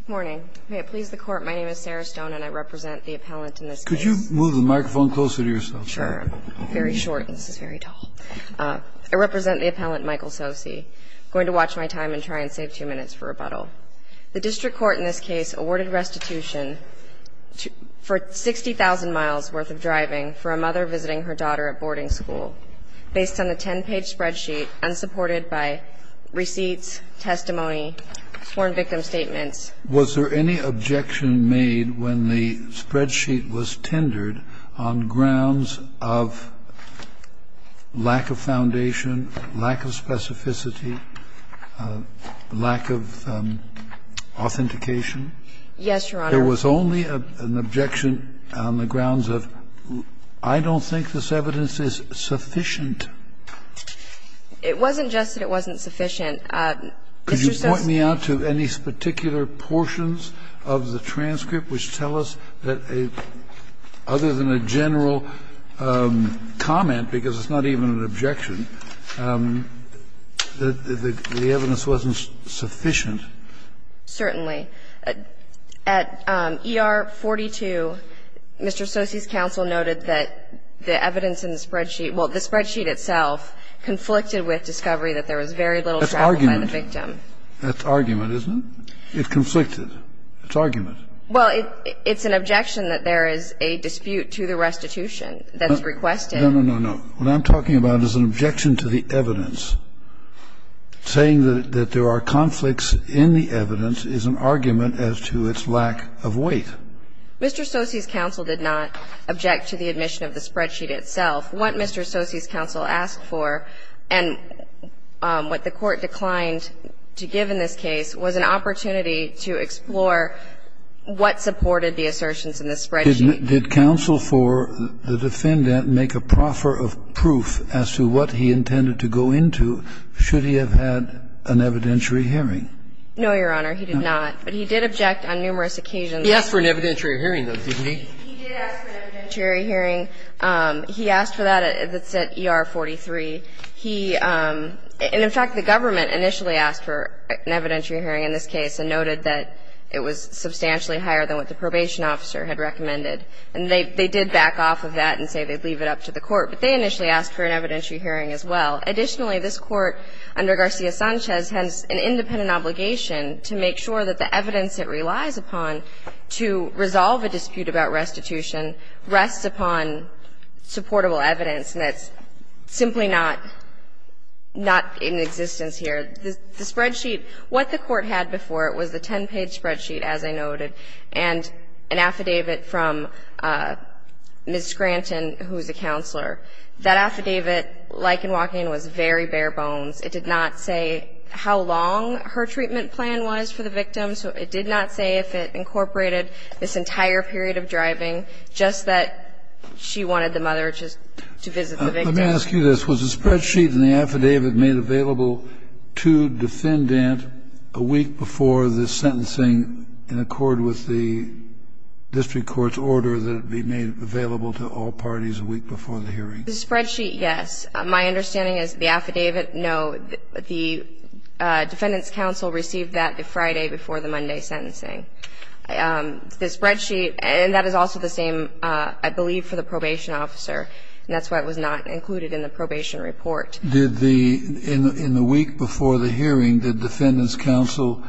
Good morning. May it please the Court, my name is Sarah Stone and I represent the appellant in this case. Could you move the microphone closer to yourself? Sure. I'm very short and this is very tall. I represent the appellant Michael Tsosie. I'm going to watch my time and try and save two minutes for rebuttal. The district court in this case awarded restitution for 60,000 miles worth of driving for a mother visiting her daughter at boarding school based on a 10-page spreadsheet and supported by receipts, testimony, sworn victim statements. Was there any objection made when the spreadsheet was tendered on grounds of lack of foundation, lack of specificity, lack of authentication? Yes, Your Honor. There was only an objection on the grounds of I don't think this evidence is sufficient. It wasn't just that it wasn't sufficient. Could you point me out to any particular portions of the transcript which tell us that other than a general comment, because it's not even an objection, that the evidence wasn't sufficient? Certainly. At ER 42, Mr. Tsosie's counsel noted that the evidence in the spreadsheet – well, the spreadsheet itself conflicted with discovery that there was very little travel by the victim. That's argument. That's argument, isn't it? It's conflicted. It's argument. Well, it's an objection that there is a dispute to the restitution that's requested. No, no, no, no. What I'm talking about is an objection to the evidence. Saying that there are conflicts in the evidence is an argument as to its lack of weight. Mr. Tsosie's counsel did not object to the admission of the spreadsheet itself. What Mr. Tsosie's counsel asked for and what the Court declined to give in this case was an opportunity to explore what supported the assertions in the spreadsheet. Did counsel for the defendant make a proffer of proof as to what he intended to go into should he have had an evidentiary hearing? No, Your Honor, he did not. But he did object on numerous occasions. He asked for an evidentiary hearing, though, didn't he? He did ask for an evidentiary hearing. He asked for that at ER 43. He – and in fact, the government initially asked for an evidentiary hearing in this case and noted that it was substantially higher than what the probation officer had recommended. And they did back off of that and say they'd leave it up to the Court. But they initially asked for an evidentiary hearing as well. Additionally, this Court under Garcia-Sanchez has an independent obligation to make sure that the evidence it relies upon to resolve a dispute about restitution rests upon supportable evidence, and that's simply not – not in existence here. The spreadsheet – what the Court had before it was the 10-page spreadsheet, as I noted, and an affidavit from Ms. Scranton, who is a counselor. That affidavit, like in Walking Inn, was very bare bones. It did not say how long her treatment plan was for the victim. So it did not say if it incorporated this entire period of driving, just that she wanted the mother just to visit the victim. Let me ask you this. Was the spreadsheet and the affidavit made available to defendant a week before the sentencing in accord with the district court's order that it be made available to all parties a week before the hearing? The spreadsheet, yes. My understanding is the affidavit, no. The defendants' counsel received that the Friday before the Monday sentencing. The spreadsheet – and that is also the same, I believe, for the probation officer, and that's why it was not included in the probation report. Did the – in the week before the hearing, did defendants' counsel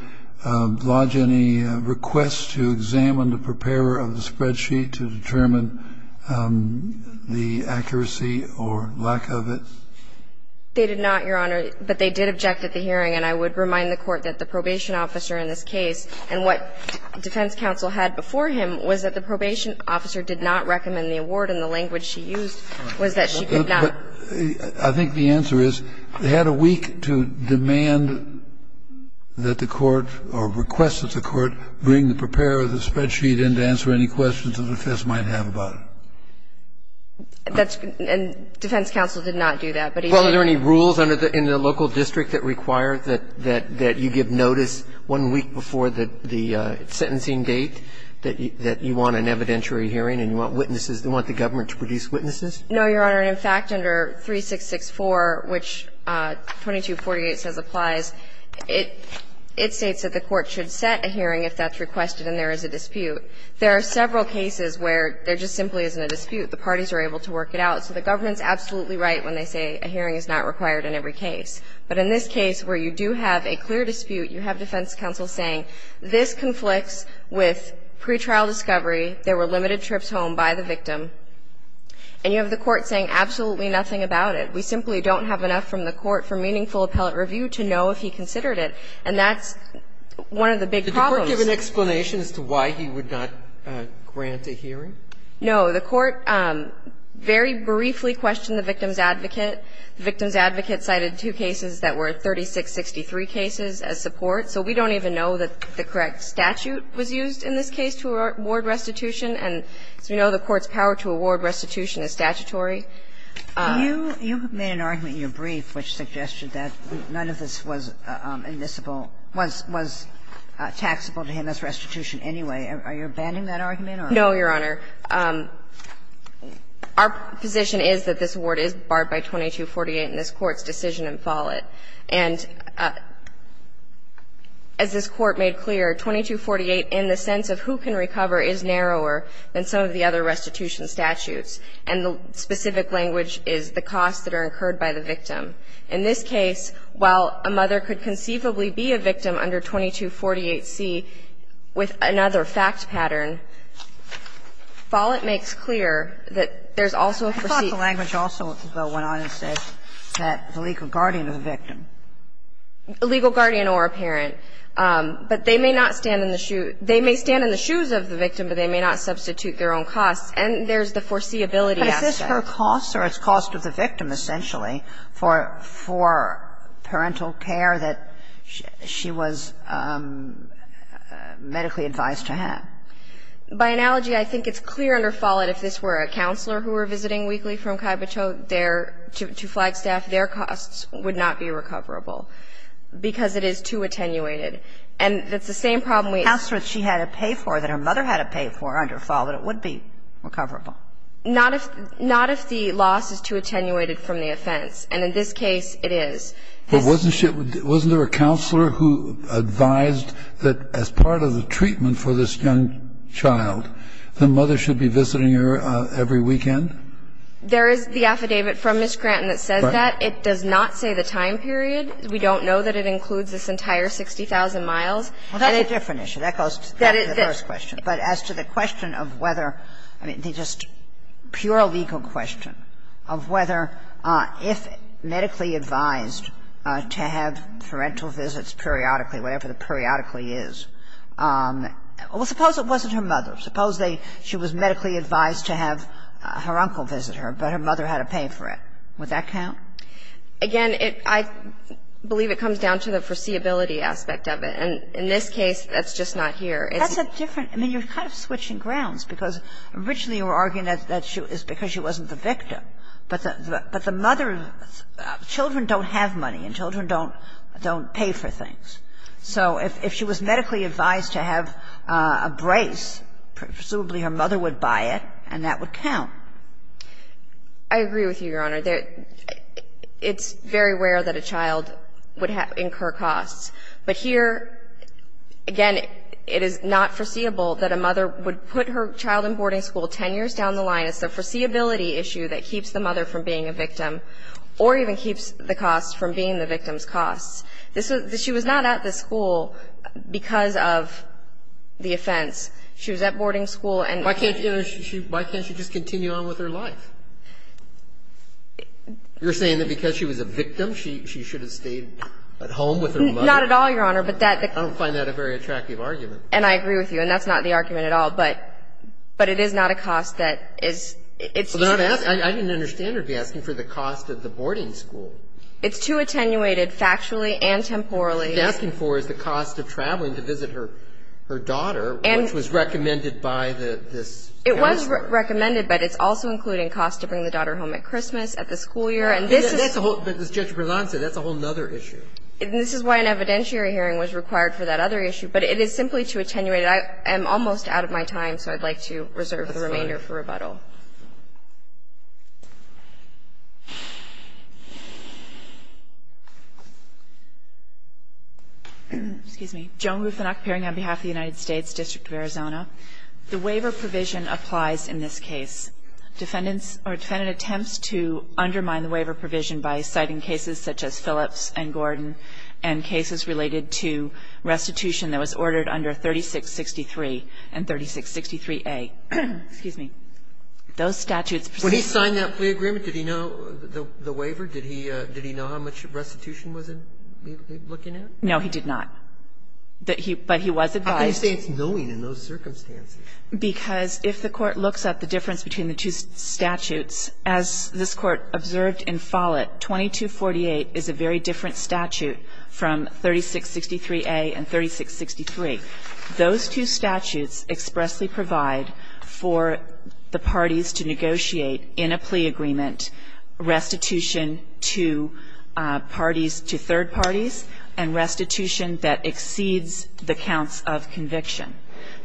lodge any requests to examine the preparer of the spreadsheet to determine the accuracy or lack of it? They did not, Your Honor, but they did object at the hearing. And I would remind the Court that the probation officer in this case – and what defense counsel had before him was that the probation officer did not recommend that the court bring the preparer of the spreadsheet in to answer any questions that the defense might have about it. I think the answer is they had a week to demand that the court, or request that the court bring the preparer of the spreadsheet in to answer any questions that the defense might have about it. That's – and defense counsel did not do that, but he did. Well, are there any rules in the local district that require that you give notice one week before the sentencing date that you want an evidentiary hearing and you want witnesses – you want the government to produce witnesses? No, Your Honor. In fact, under 3664, which 2248 says applies, it states that the court should set a hearing if that's requested and there is a dispute. There are several cases where there just simply isn't a dispute. The parties are able to work it out. So the government's absolutely right when they say a hearing is not required in every case. But in this case where you do have a clear dispute, you have defense counsel saying this conflicts with pretrial discovery, there were limited trips home by the victim, and you have the court saying absolutely nothing about it. We simply don't have enough from the court for meaningful appellate review to know if he considered it. And that's one of the big problems. Did the court give an explanation as to why he would not grant a hearing? No. The court very briefly questioned the victim's advocate. The victim's advocate cited two cases that were 3663 cases as support. So we don't even know that the correct statute was used in this case to award restitution. And as we know, the court's power to award restitution is statutory. You have made an argument in your brief which suggested that none of this was admissible – was taxable to him as restitution anyway. Are you abandoning that argument? No, Your Honor. Our position is that this award is barred by 2248 in this Court's decision in Follett. And as this Court made clear, 2248 in the sense of who can recover is narrower than some of the other restitution statutes, and the specific language is the costs that are incurred by the victim. In this case, while a mother could conceivably be a victim under 2248C with another fact pattern, Follett makes clear that there's also a foreseeable cost. I thought the language also, though, went on and said that the legal guardian of the victim. A legal guardian or a parent. But they may not stand in the shoe – they may stand in the shoes of the victim, but they may not substitute their own costs. And there's the foreseeability aspect. But is this her cost or its cost of the victim, essentially, for parental care that she was medically advised to have? By analogy, I think it's clear under Follett if this were a counselor who were visiting weekly from Kaibucho, their – to Flagstaff, their costs would not be recoverable because it is too attenuated. And that's the same problem we have. Counselor that she had to pay for, that her mother had to pay for under Follett, it would be recoverable. Not if – not if the loss is too attenuated from the offense. And in this case, it is. But wasn't she – wasn't there a counselor who advised that as part of the treatment for this young child, the mother should be visiting her every weekend? There is the affidavit from Ms. Granton that says that. It does not say the time period. We don't know that it includes this entire 60,000 miles. Well, that's a different issue. That goes back to the first question. But as to the question of whether – I mean, the just pure legal question of whether if medically advised to have parental visits periodically, whatever the periodically is. Well, suppose it wasn't her mother. Suppose they – she was medically advised to have her uncle visit her, but her mother had to pay for it. Would that count? Again, it – I believe it comes down to the foreseeability aspect of it. And in this case, that's just not here. That's a different – I mean, you're kind of switching grounds, because originally you were arguing that it's because she wasn't the victim. But the mother – children don't have money and children don't pay for things. So if she was medically advised to have a brace, presumably her mother would buy it and that would count. I agree with you, Your Honor. It's very rare that a child would incur costs. But here, again, it is not foreseeable that a mother would put her child in boarding school 10 years down the line. It's the foreseeability issue that keeps the mother from being a victim or even keeps the costs from being the victim's costs. This was – she was not at the school because of the offense. She was at boarding school and – Why can't she just continue on with her life? You're saying that because she was a victim, she should have stayed at home with her mother? Not at all, Your Honor, but that – I don't find that a very attractive argument. And I agree with you. And that's not the argument at all. But it is not a cost that is – it's just that – I didn't understand her asking for the cost of the boarding school. It's too attenuated factually and temporally. What she's asking for is the cost of traveling to visit her daughter, which was recommended by this counselor. It was recommended, but it's also including costs to bring the daughter home at Christmas, at the school year. And this is – But as Judge Berlant said, that's a whole other issue. And this is why an evidentiary hearing was required for that other issue. But it is simply too attenuated. I am almost out of my time, so I'd like to reserve the remainder for rebuttal. Excuse me. Joan Rufinock, appearing on behalf of the United States District of Arizona. The waiver provision applies in this case. Defendants – or defendant attempts to undermine the waiver provision by citing cases such as Phillips and Gordon and cases related to restitution that was ordered under 3663 and 3663A. Excuse me. Those statutes precisely – When he signed that plea agreement, did he know the waiver? Did he know how much restitution was looking at? No, he did not. But he was advised – How can you say it's knowing in those circumstances? Because if the Court looks at the difference between the two statutes, as this Court observed in Follett, 2248 is a very different statute from 3663A and 3663. Those two statutes expressly provide for the parties to negotiate in a plea agreement restitution to parties – to third parties and restitution that exceeds the counts of conviction.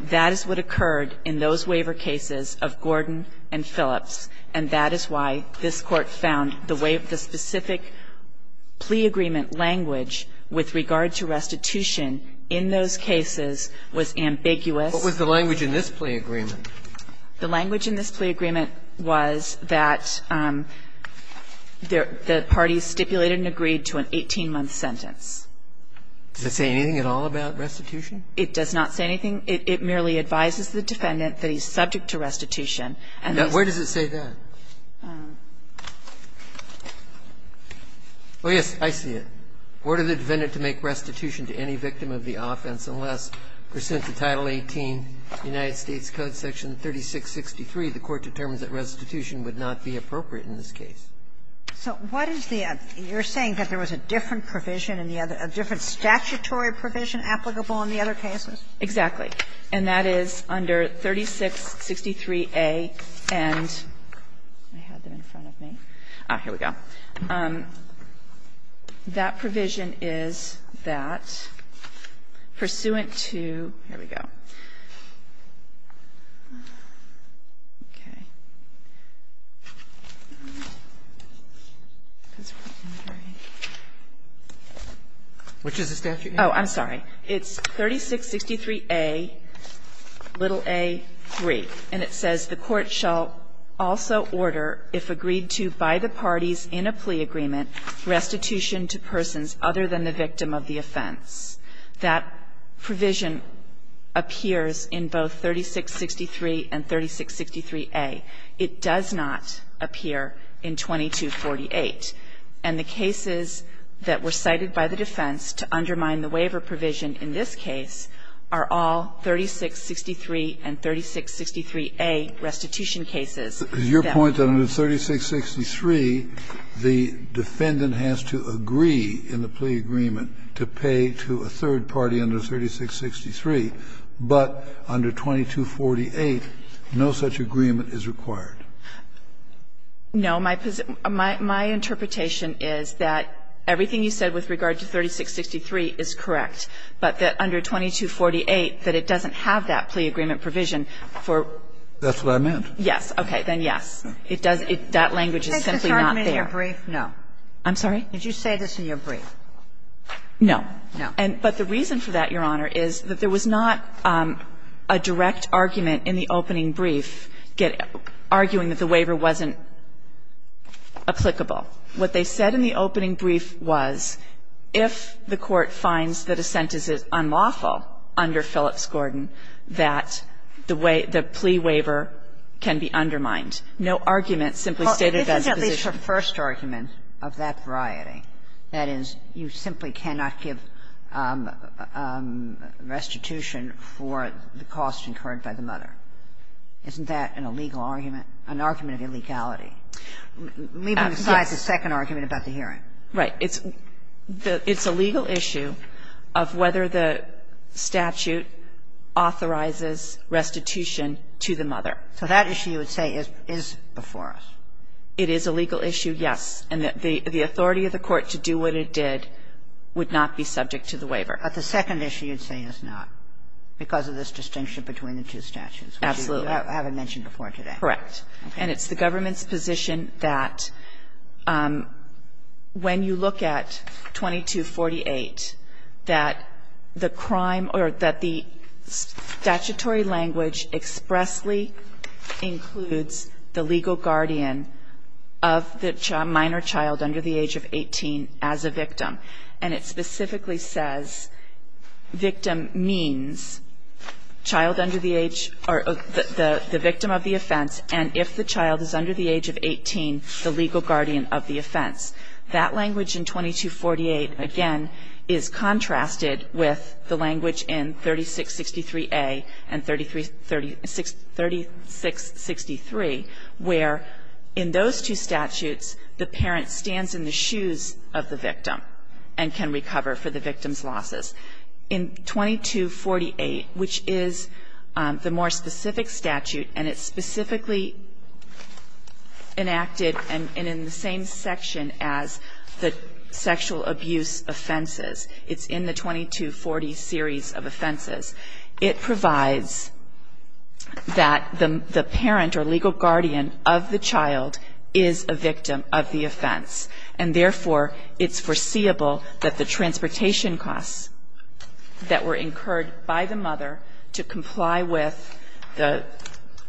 That is what occurred in those waiver cases of Gordon and Phillips, and that is why this Court found the way of the specific plea agreement language with regard to restitution in those cases was ambiguous. What was the language in this plea agreement? The language in this plea agreement was that the parties stipulated and agreed to an 18-month sentence. Does it say anything at all about restitution? It does not say anything. It merely advises the defendant that he's subject to restitution. Now, where does it say that? Oh, yes, I see it. Order the defendant to make restitution to any victim of the offense unless, pursuant to Title 18 United States Code section 3663, the Court determines that restitution would not be appropriate in this case. So what is the other – you're saying that there was a different provision in the other – a different statutory provision applicable in the other cases? Exactly. And that is under 3663A and – I had them in front of me. Here we go. That provision is that, pursuant to – here we go. Okay. Which is the statute? Oh, I'm sorry. It's 3663A, little a, 3, and it says the Court shall also order if agreed to by the restitution to persons other than the victim of the offense. That provision appears in both 3663 and 3663A. It does not appear in 2248. And the cases that were cited by the defense to undermine the waiver provision in this case are all 3663 and 3663A restitution cases. Is your point that under 3663, the defendant has to agree in the plea agreement to pay to a third party under 3663, but under 2248, no such agreement is required? No. My interpretation is that everything you said with regard to 3663 is correct. But that under 2248, that it doesn't have that plea agreement provision for – That's what I meant. Yes. Okay. Then yes. It does – that language is simply not there. Did you say this in your brief? No. I'm sorry? Did you say this in your brief? No. No. But the reason for that, Your Honor, is that there was not a direct argument in the opening brief arguing that the waiver wasn't applicable. What they said in the opening brief was if the Court finds that a sentence is unlawful under Phillips-Gordon, that the way – the plea waiver can be undermined. No argument simply stated that's the position. Well, this is at least the first argument of that variety, that is, you simply cannot give restitution for the cost incurred by the mother. Isn't that an illegal argument, an argument of illegality, leaving aside the second argument about the hearing? Right. It's a legal issue of whether the statute authorizes restitution to the mother. So that issue, you would say, is before us? It is a legal issue, yes. And the authority of the Court to do what it did would not be subject to the waiver. But the second issue you'd say is not because of this distinction between the two statutes. Absolutely. Which you haven't mentioned before today. Correct. Okay. It's the government's position that when you look at 2248, that the crime or that the statutory language expressly includes the legal guardian of the minor child under the age of 18 as a victim. And it specifically says victim means child under the age or the victim of the offense. And if the child is under the age of 18, the legal guardian of the offense. That language in 2248, again, is contrasted with the language in 3663A and 3663, where in those two statutes, the parent stands in the shoes of the victim and can recover for the victim's losses. In 2248, which is the more specific statute, and it's specifically enacted and in the same section as the sexual abuse offenses, it's in the 2240 series of offenses, it provides that the parent or legal guardian of the child is a victim of the offense. And therefore, it's foreseeable that the transportation costs that were incurred by the mother to comply with the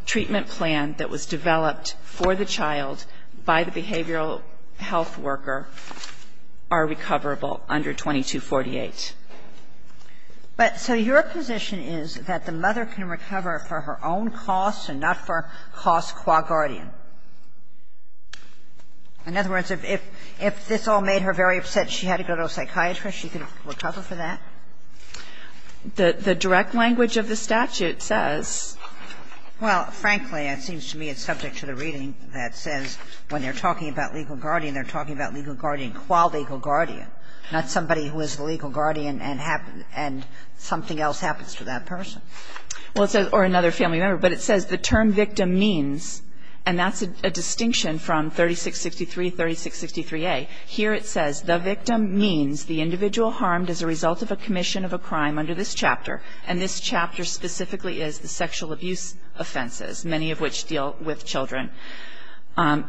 treatment plan that was developed for the child by the behavioral health worker are recoverable under 2248. But so your position is that the mother can recover for her own costs and not for costs qua guardian. In other words, if this all made her very upset and she had to go to a psychiatrist, she could recover for that? The direct language of the statute says. Well, frankly, it seems to me it's subject to the reading that says when they're talking about legal guardian, they're talking about legal guardian qua legal guardian, not somebody who is the legal guardian and something else happens to that person. Well, it says, or another family member. But it says the term victim means, and that's a distinction from 3663, 3663A. Here it says the victim means the individual harmed as a result of a commission of a crime under this chapter, and this chapter specifically is the sexual abuse offenses, many of which deal with children,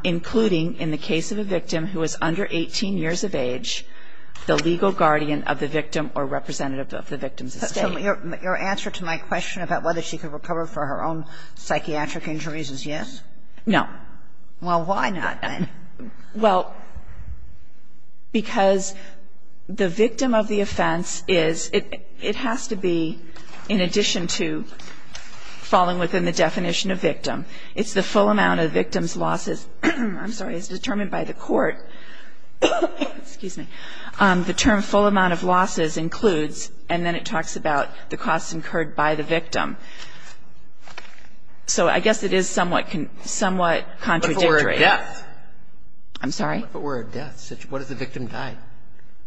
including in the case of a victim who is under 18 years of age, the legal guardian of the victim or representative of the victim's estate. So your answer to my question about whether she could recover for her own psychiatric injuries is yes? No. Well, why not then? Well, because the victim of the offense is, it has to be, in addition to falling within the definition of victim, it's the full amount of victim's losses. I'm sorry. It's determined by the court. Excuse me. The term full amount of losses includes, and then it talks about the costs incurred by the victim. So I guess it is somewhat, somewhat contradictory. But for a death. I'm sorry? But for a death. What if the victim died?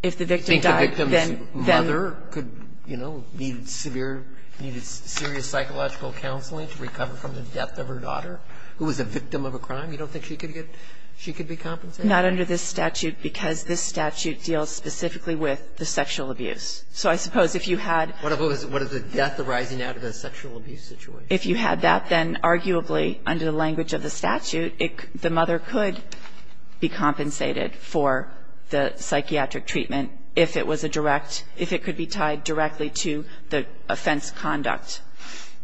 If the victim died, then. Think the victim's mother could, you know, need severe, needed serious psychological counseling to recover from the death of her daughter, who was a victim of a crime? You don't think she could get, she could be compensated? Not under this statute, because this statute deals specifically with the sexual abuse. So I suppose if you had. What if it was a death arising out of a sexual abuse situation? If you had that, then arguably, under the language of the statute, the mother could be compensated for the psychiatric treatment if it was a direct, if it could be tied directly to the offense conduct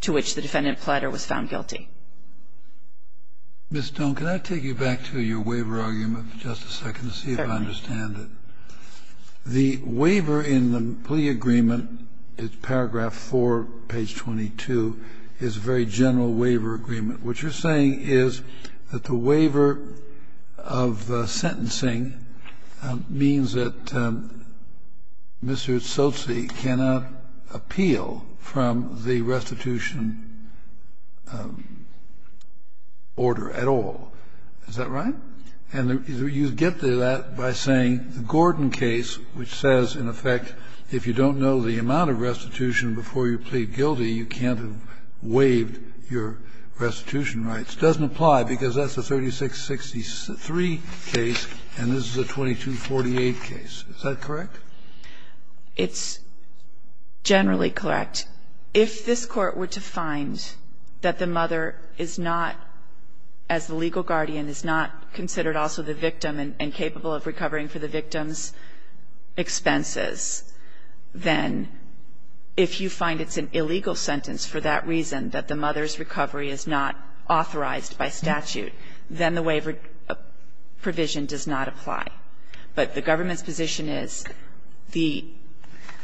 to which the defendant pleader was found guilty. Mr. Stone, could I take you back to your waiver argument for just a second to see if I understand it? Sure. The waiver in the plea agreement, paragraph 4, page 22, is a very general waiver agreement. What you're saying is that the waiver of the sentencing means that Mr. Tsotsi cannot appeal from the restitution order at all. Is that right? And you get to that by saying the Gordon case, which says, in effect, if you don't know the amount of restitution before you plead guilty, you can't have waived your restitution rights, doesn't apply, because that's a 3663 case and this is a 2248 Is that correct? It's generally correct. If this Court were to find that the mother is not, as the legal guardian, is not considered also the victim and capable of recovering for the victim's expenses, then if you find it's an illegal sentence for that reason, that the mother's recovery is not authorized by statute, then the waiver provision does not apply. But the government's position is the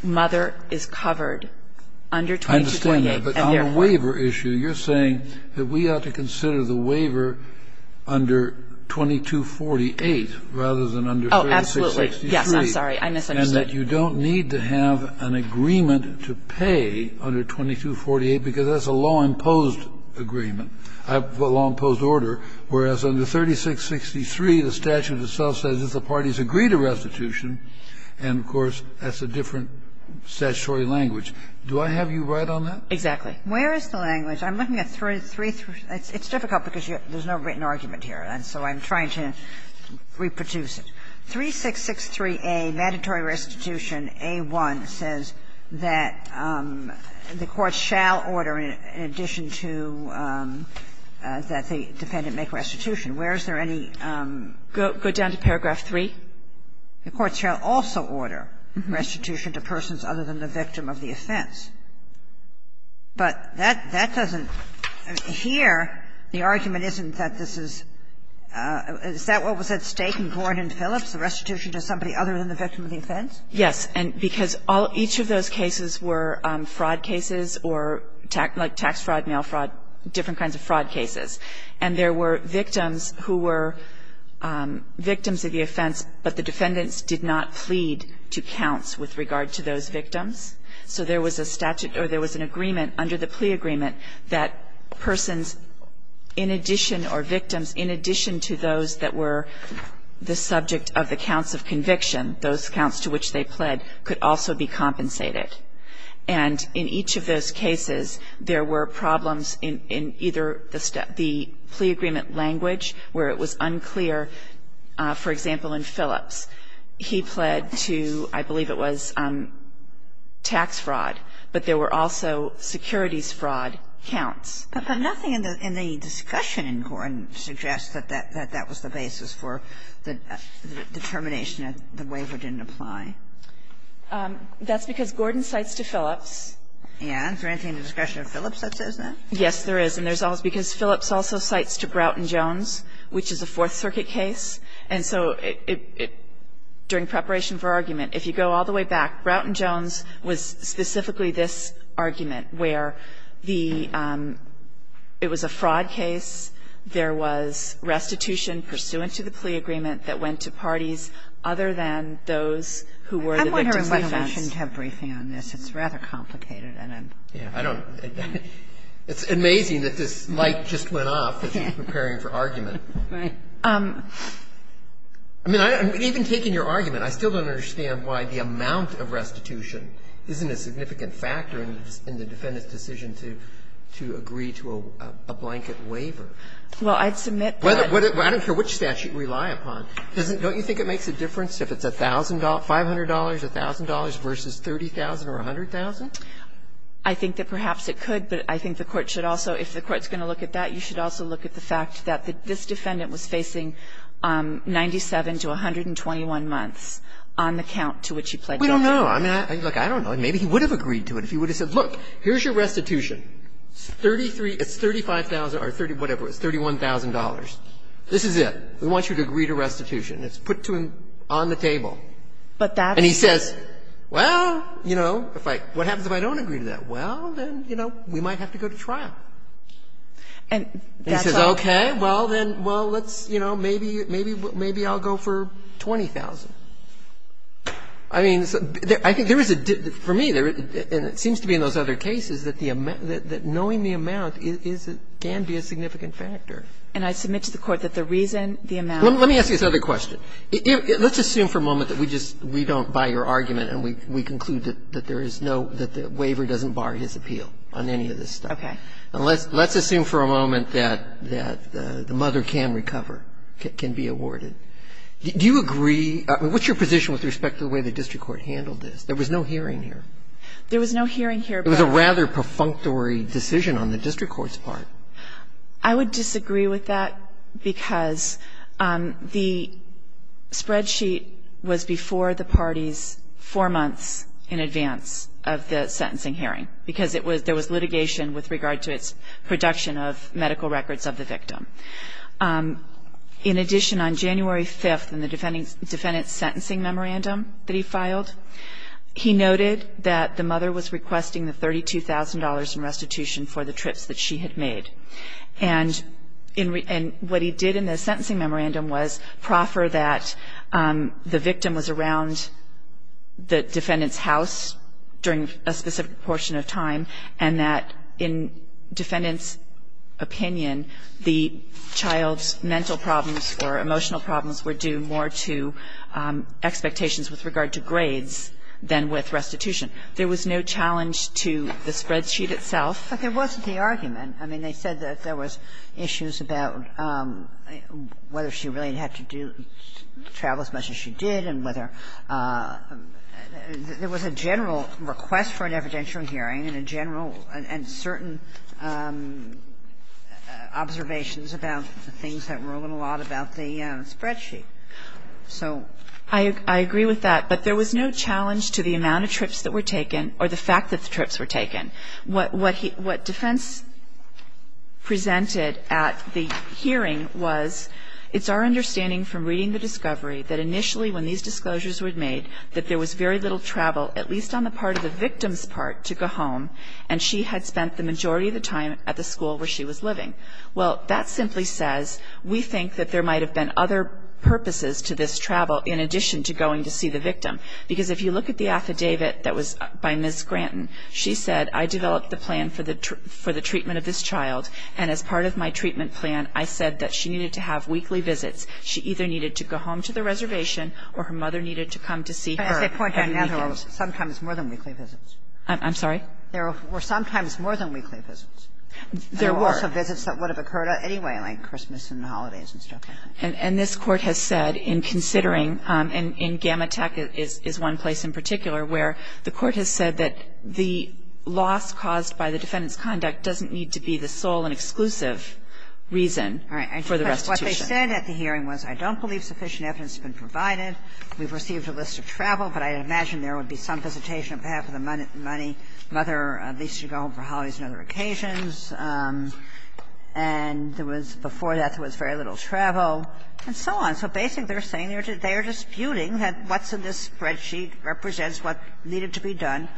mother is covered under 2248. I understand that. But on the waiver issue, you're saying that we ought to consider the waiver under 2248 rather than under 3663. Oh, absolutely. Yes, I'm sorry. I misunderstood. And that you don't need to have an agreement to pay under 2248, because that's a law-imposed agreement, a law-imposed order. Whereas, under 3663, the statute itself says that the parties agree to restitution. And, of course, that's a different statutory language. Do I have you right on that? Exactly. Where is the language? I'm looking at 333. It's difficult, because there's no written argument here, and so I'm trying to reproduce it. 3663A, Mandatory Restitution A-1, says that the court shall order, in addition to that the defendant make restitution. Where is there any go down to paragraph 3? The court shall also order restitution to persons other than the victim of the offense. But that doesn't here, the argument isn't that this is – is that what was at stake in Gordon Phillips, the restitution to somebody other than the victim of the offense? Yes, and because all – each of those cases were fraud cases or, like, tax fraud, mail fraud, different kinds of fraud cases. And there were victims who were victims of the offense, but the defendants did not plead to counts with regard to those victims. So there was a statute – or there was an agreement under the plea agreement that persons in addition or victims in addition to those that were the subject of the counts of conviction, those counts to which they pled, could also be compensated. And in each of those cases, there were problems in either the plea agreement language where it was unclear. For example, in Phillips, he pled to, I believe it was tax fraud, but there were also securities fraud counts. But nothing in the discussion in Gordon suggests that that was the basis for the restitution determination if the waiver didn't apply. That's because Gordon cites to Phillips. And is there anything in the discretion of Phillips that says that? Yes, there is. And there's also – because Phillips also cites to Broughton Jones, which is a Fourth Circuit case, and so it – during preparation for argument, if you go all the way back, Broughton Jones was specifically this argument, where the – it was a fraud case, there was restitution pursuant to the plea agreement that went to parties other than those who were the defendants. I'm wondering why we shouldn't have briefing on this. It's rather complicated, and I'm – Yeah, I don't – it's amazing that this light just went off as you were preparing for argument. Right. I mean, even taking your argument, I still don't understand why the amount of restitution isn't a significant factor in the defendant's decision to agree to a blanket waiver. Well, I'd submit that – I don't care which statute you rely upon. Doesn't – don't you think it makes a difference if it's $1,000 – $500, $1,000 versus $30,000 or $100,000? I think that perhaps it could, but I think the Court should also – if the Court's going to look at that, you should also look at the fact that this defendant was facing 97 to 121 months on the count to which he pled guilty. We don't know. I mean, look, I don't know. Maybe he would have agreed to it if he would have said, look, here's your restitution. It's 33 – it's $35,000 or 30 – whatever. It's $31,000. This is it. We want you to agree to restitution. It's put to him on the table. And he says, well, you know, if I – what happens if I don't agree to that? Well, then, you know, we might have to go to trial. And he says, okay, well, then, well, let's, you know, maybe – maybe I'll go for 20,000. I mean, I think there is a – for me, there is – and it seems to be in those other cases that the amount – that knowing the amount is – can be a significant factor. And I submit to the Court that the reason, the amount – Let me ask you this other question. Let's assume for a moment that we just – we don't buy your argument and we conclude that there is no – that the waiver doesn't bar his appeal on any of this stuff. Okay. And let's assume for a moment that the mother can recover, can be awarded. Do you agree – I mean, what's your position with respect to the way the district court handled this? There was no hearing here. There was no hearing here, but – It was a rather perfunctory decision on the district court's part. I would disagree with that because the spreadsheet was before the parties four months in advance of the sentencing hearing, because it was – there was litigation with regard to its production of medical records of the victim. In addition, on January 5th, in the defendant's sentencing memorandum that he filed, he noted that the mother was requesting the $32,000 in restitution for the trips that she had made. And in – and what he did in the sentencing memorandum was proffer that the victim was around the defendant's house during a specific portion of time and that in defendant's opinion, the child's mental problems or emotional problems were due more to expectations with regard to grades than with restitution. There was no challenge to the spreadsheet itself. But there wasn't the argument. I mean, they said that there was issues about whether she really had to do – travel as much as she did and whether – there was a general request for an evidential hearing and a general – and certain observations about the things that were a little odd about the spreadsheet. So – I agree with that. But there was no challenge to the amount of trips that were taken or the fact that the trips were taken. What defense presented at the hearing was it's our understanding from reading the discovery that initially when these disclosures were made, that there was very little travel, at least on the part of the victim's part, to go home, and she had spent the majority of the time at the school where she was living. Well, that simply says we think that there might have been other purposes to this travel in addition to going to see the victim. Because if you look at the affidavit that was by Ms. Granton, she said, I developed the plan for the treatment of this child. And as part of my treatment plan, I said that she needed to have weekly visits. She either needed to go home to the reservation or her mother needed to come to see her on the weekend. Sometimes more than weekly visits. I'm sorry? There were sometimes more than weekly visits. There were. There were also visits that would have occurred at any way, like Christmas and holidays and stuff like that. And this Court has said in considering, and Gamma Tech is one place in particular, where the Court has said that the loss caused by the defendant's conduct doesn't need to be the sole and exclusive reason for the restitution. All right. What they said at the hearing was, I don't believe sufficient evidence has been provided. We've received a list of travel, but I imagine there would be some visitation on behalf of the mother, at least to go home for holidays and other occasions. And there was, before that, there was very little travel and so on. So basically, they're saying they're disputing that what's in this spreadsheet represents what needed to be done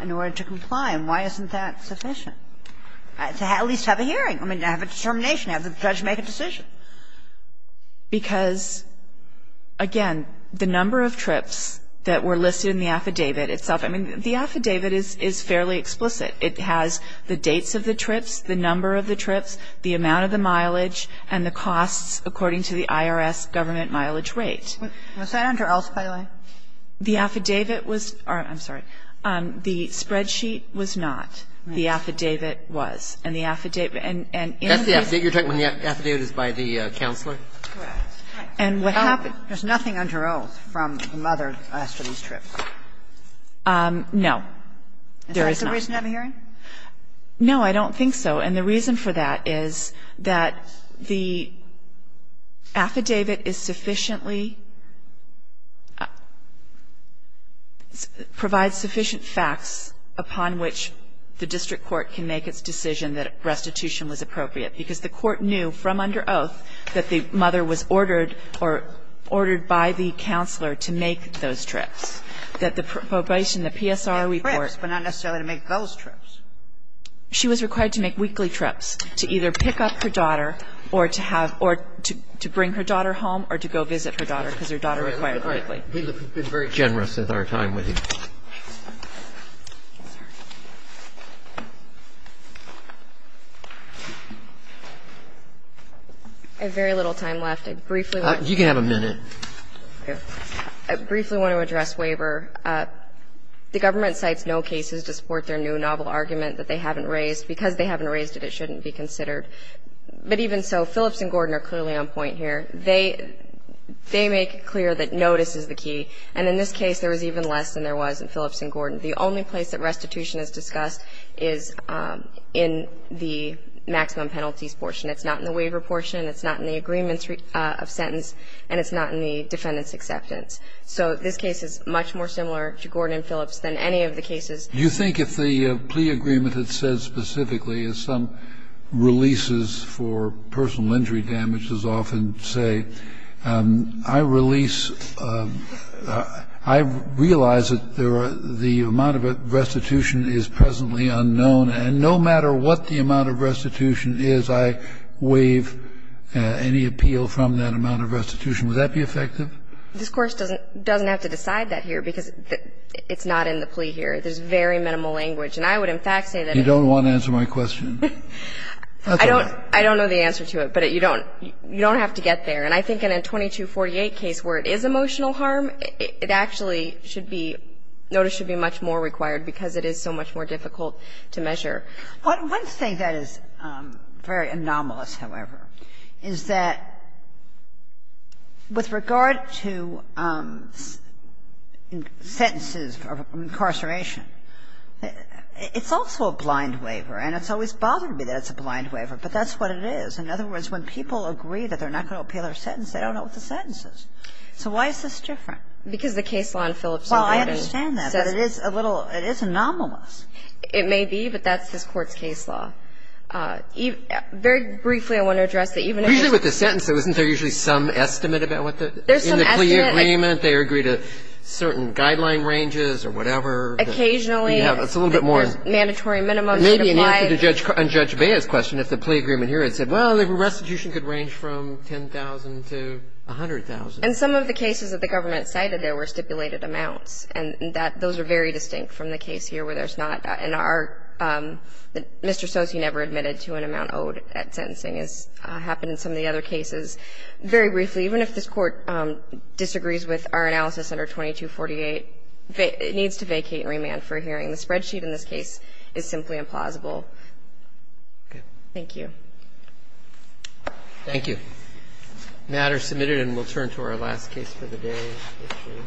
in order to comply. And why isn't that sufficient? To at least have a hearing. I mean, to have a determination, have the judge make a decision. Because, again, the number of trips that were listed in the affidavit itself – I mean, the affidavit is fairly explicit. It has the dates of the trips, the number of the trips, the amount of the mileage, and the costs according to the IRS government mileage rate. Was that under oath, by the way? The affidavit was – I'm sorry. The spreadsheet was not. The affidavit was. And the affidavit – and in the case of the – That's the affidavit you're talking about, when the affidavit is by the counselor? Correct. And what happened – There's nothing under oath from the mother after these trips? No. There is not. Is that the reason to have a hearing? No, I don't think so. And the reason for that is that the affidavit is sufficiently – provides sufficient facts upon which the district court can make its decision that restitution was appropriate. Because the court knew from under oath that the mother was ordered or ordered by the counselor to make those trips, that the probation, the PSR report – to make those trips. She was required to make weekly trips to either pick up her daughter or to have – or to bring her daughter home or to go visit her daughter because her daughter required weekly. You've been very generous with our time with you. I have very little time left. I briefly want to address Waiver. You can have a minute. I don't think it's a new novel argument that they haven't raised. Because they haven't raised it, it shouldn't be considered. But even so, Phillips and Gordon are clearly on point here. They make it clear that notice is the key. And in this case, there was even less than there was in Phillips and Gordon. The only place that restitution is discussed is in the maximum penalties portion. It's not in the waiver portion. It's not in the agreement of sentence. And it's not in the defendant's acceptance. So this case is much more similar to Gordon and Phillips than any of the cases. You think if the plea agreement had said specifically, as some releases for personal injury damages often say, I realize that the amount of restitution is presently unknown. And no matter what the amount of restitution is, I waive any appeal from that amount of restitution. Would that be effective? This course doesn't have to decide that here, because it's not in the plea here. There's very minimal language. And I would, in fact, say that- You don't want to answer my question. I don't know the answer to it, but you don't have to get there. And I think in a 2248 case where it is emotional harm, it actually should be, notice should be much more required. Because it is so much more difficult to measure. One thing that is very anomalous, however, is that with regard to sentences of incarceration, it's also a blind waiver. And it's always bothered me that it's a blind waiver. But that's what it is. In other words, when people agree that they're not going to appeal their sentence, they don't know what the sentence is. So why is this different? Because the case law in Phillips- Well, I understand that. But it is a little – it is anomalous. It may be, but that's this Court's case law. Very briefly, I want to address that even if- Usually with the sentence, isn't there usually some estimate about what the- There's some estimate. In the plea agreement, they agree to certain guideline ranges or whatever. Occasionally. It's a little bit more- Mandatory minimums. Maybe in answer to Judge Bea's question, if the plea agreement here had said, well, the restitution could range from $10,000 to $100,000. In some of the cases that the government cited, there were stipulated amounts. And that – those are very distinct from the case here where there's not – and our – Mr. Stosky never admitted to an amount owed at sentencing, as happened in some of the other cases. Very briefly, even if this Court disagrees with our analysis under 2248, it needs to vacate and remand for hearing. The spreadsheet in this case is simply implausible. Thank you. Thank you. The matter is submitted, and we'll turn to our last case for the day.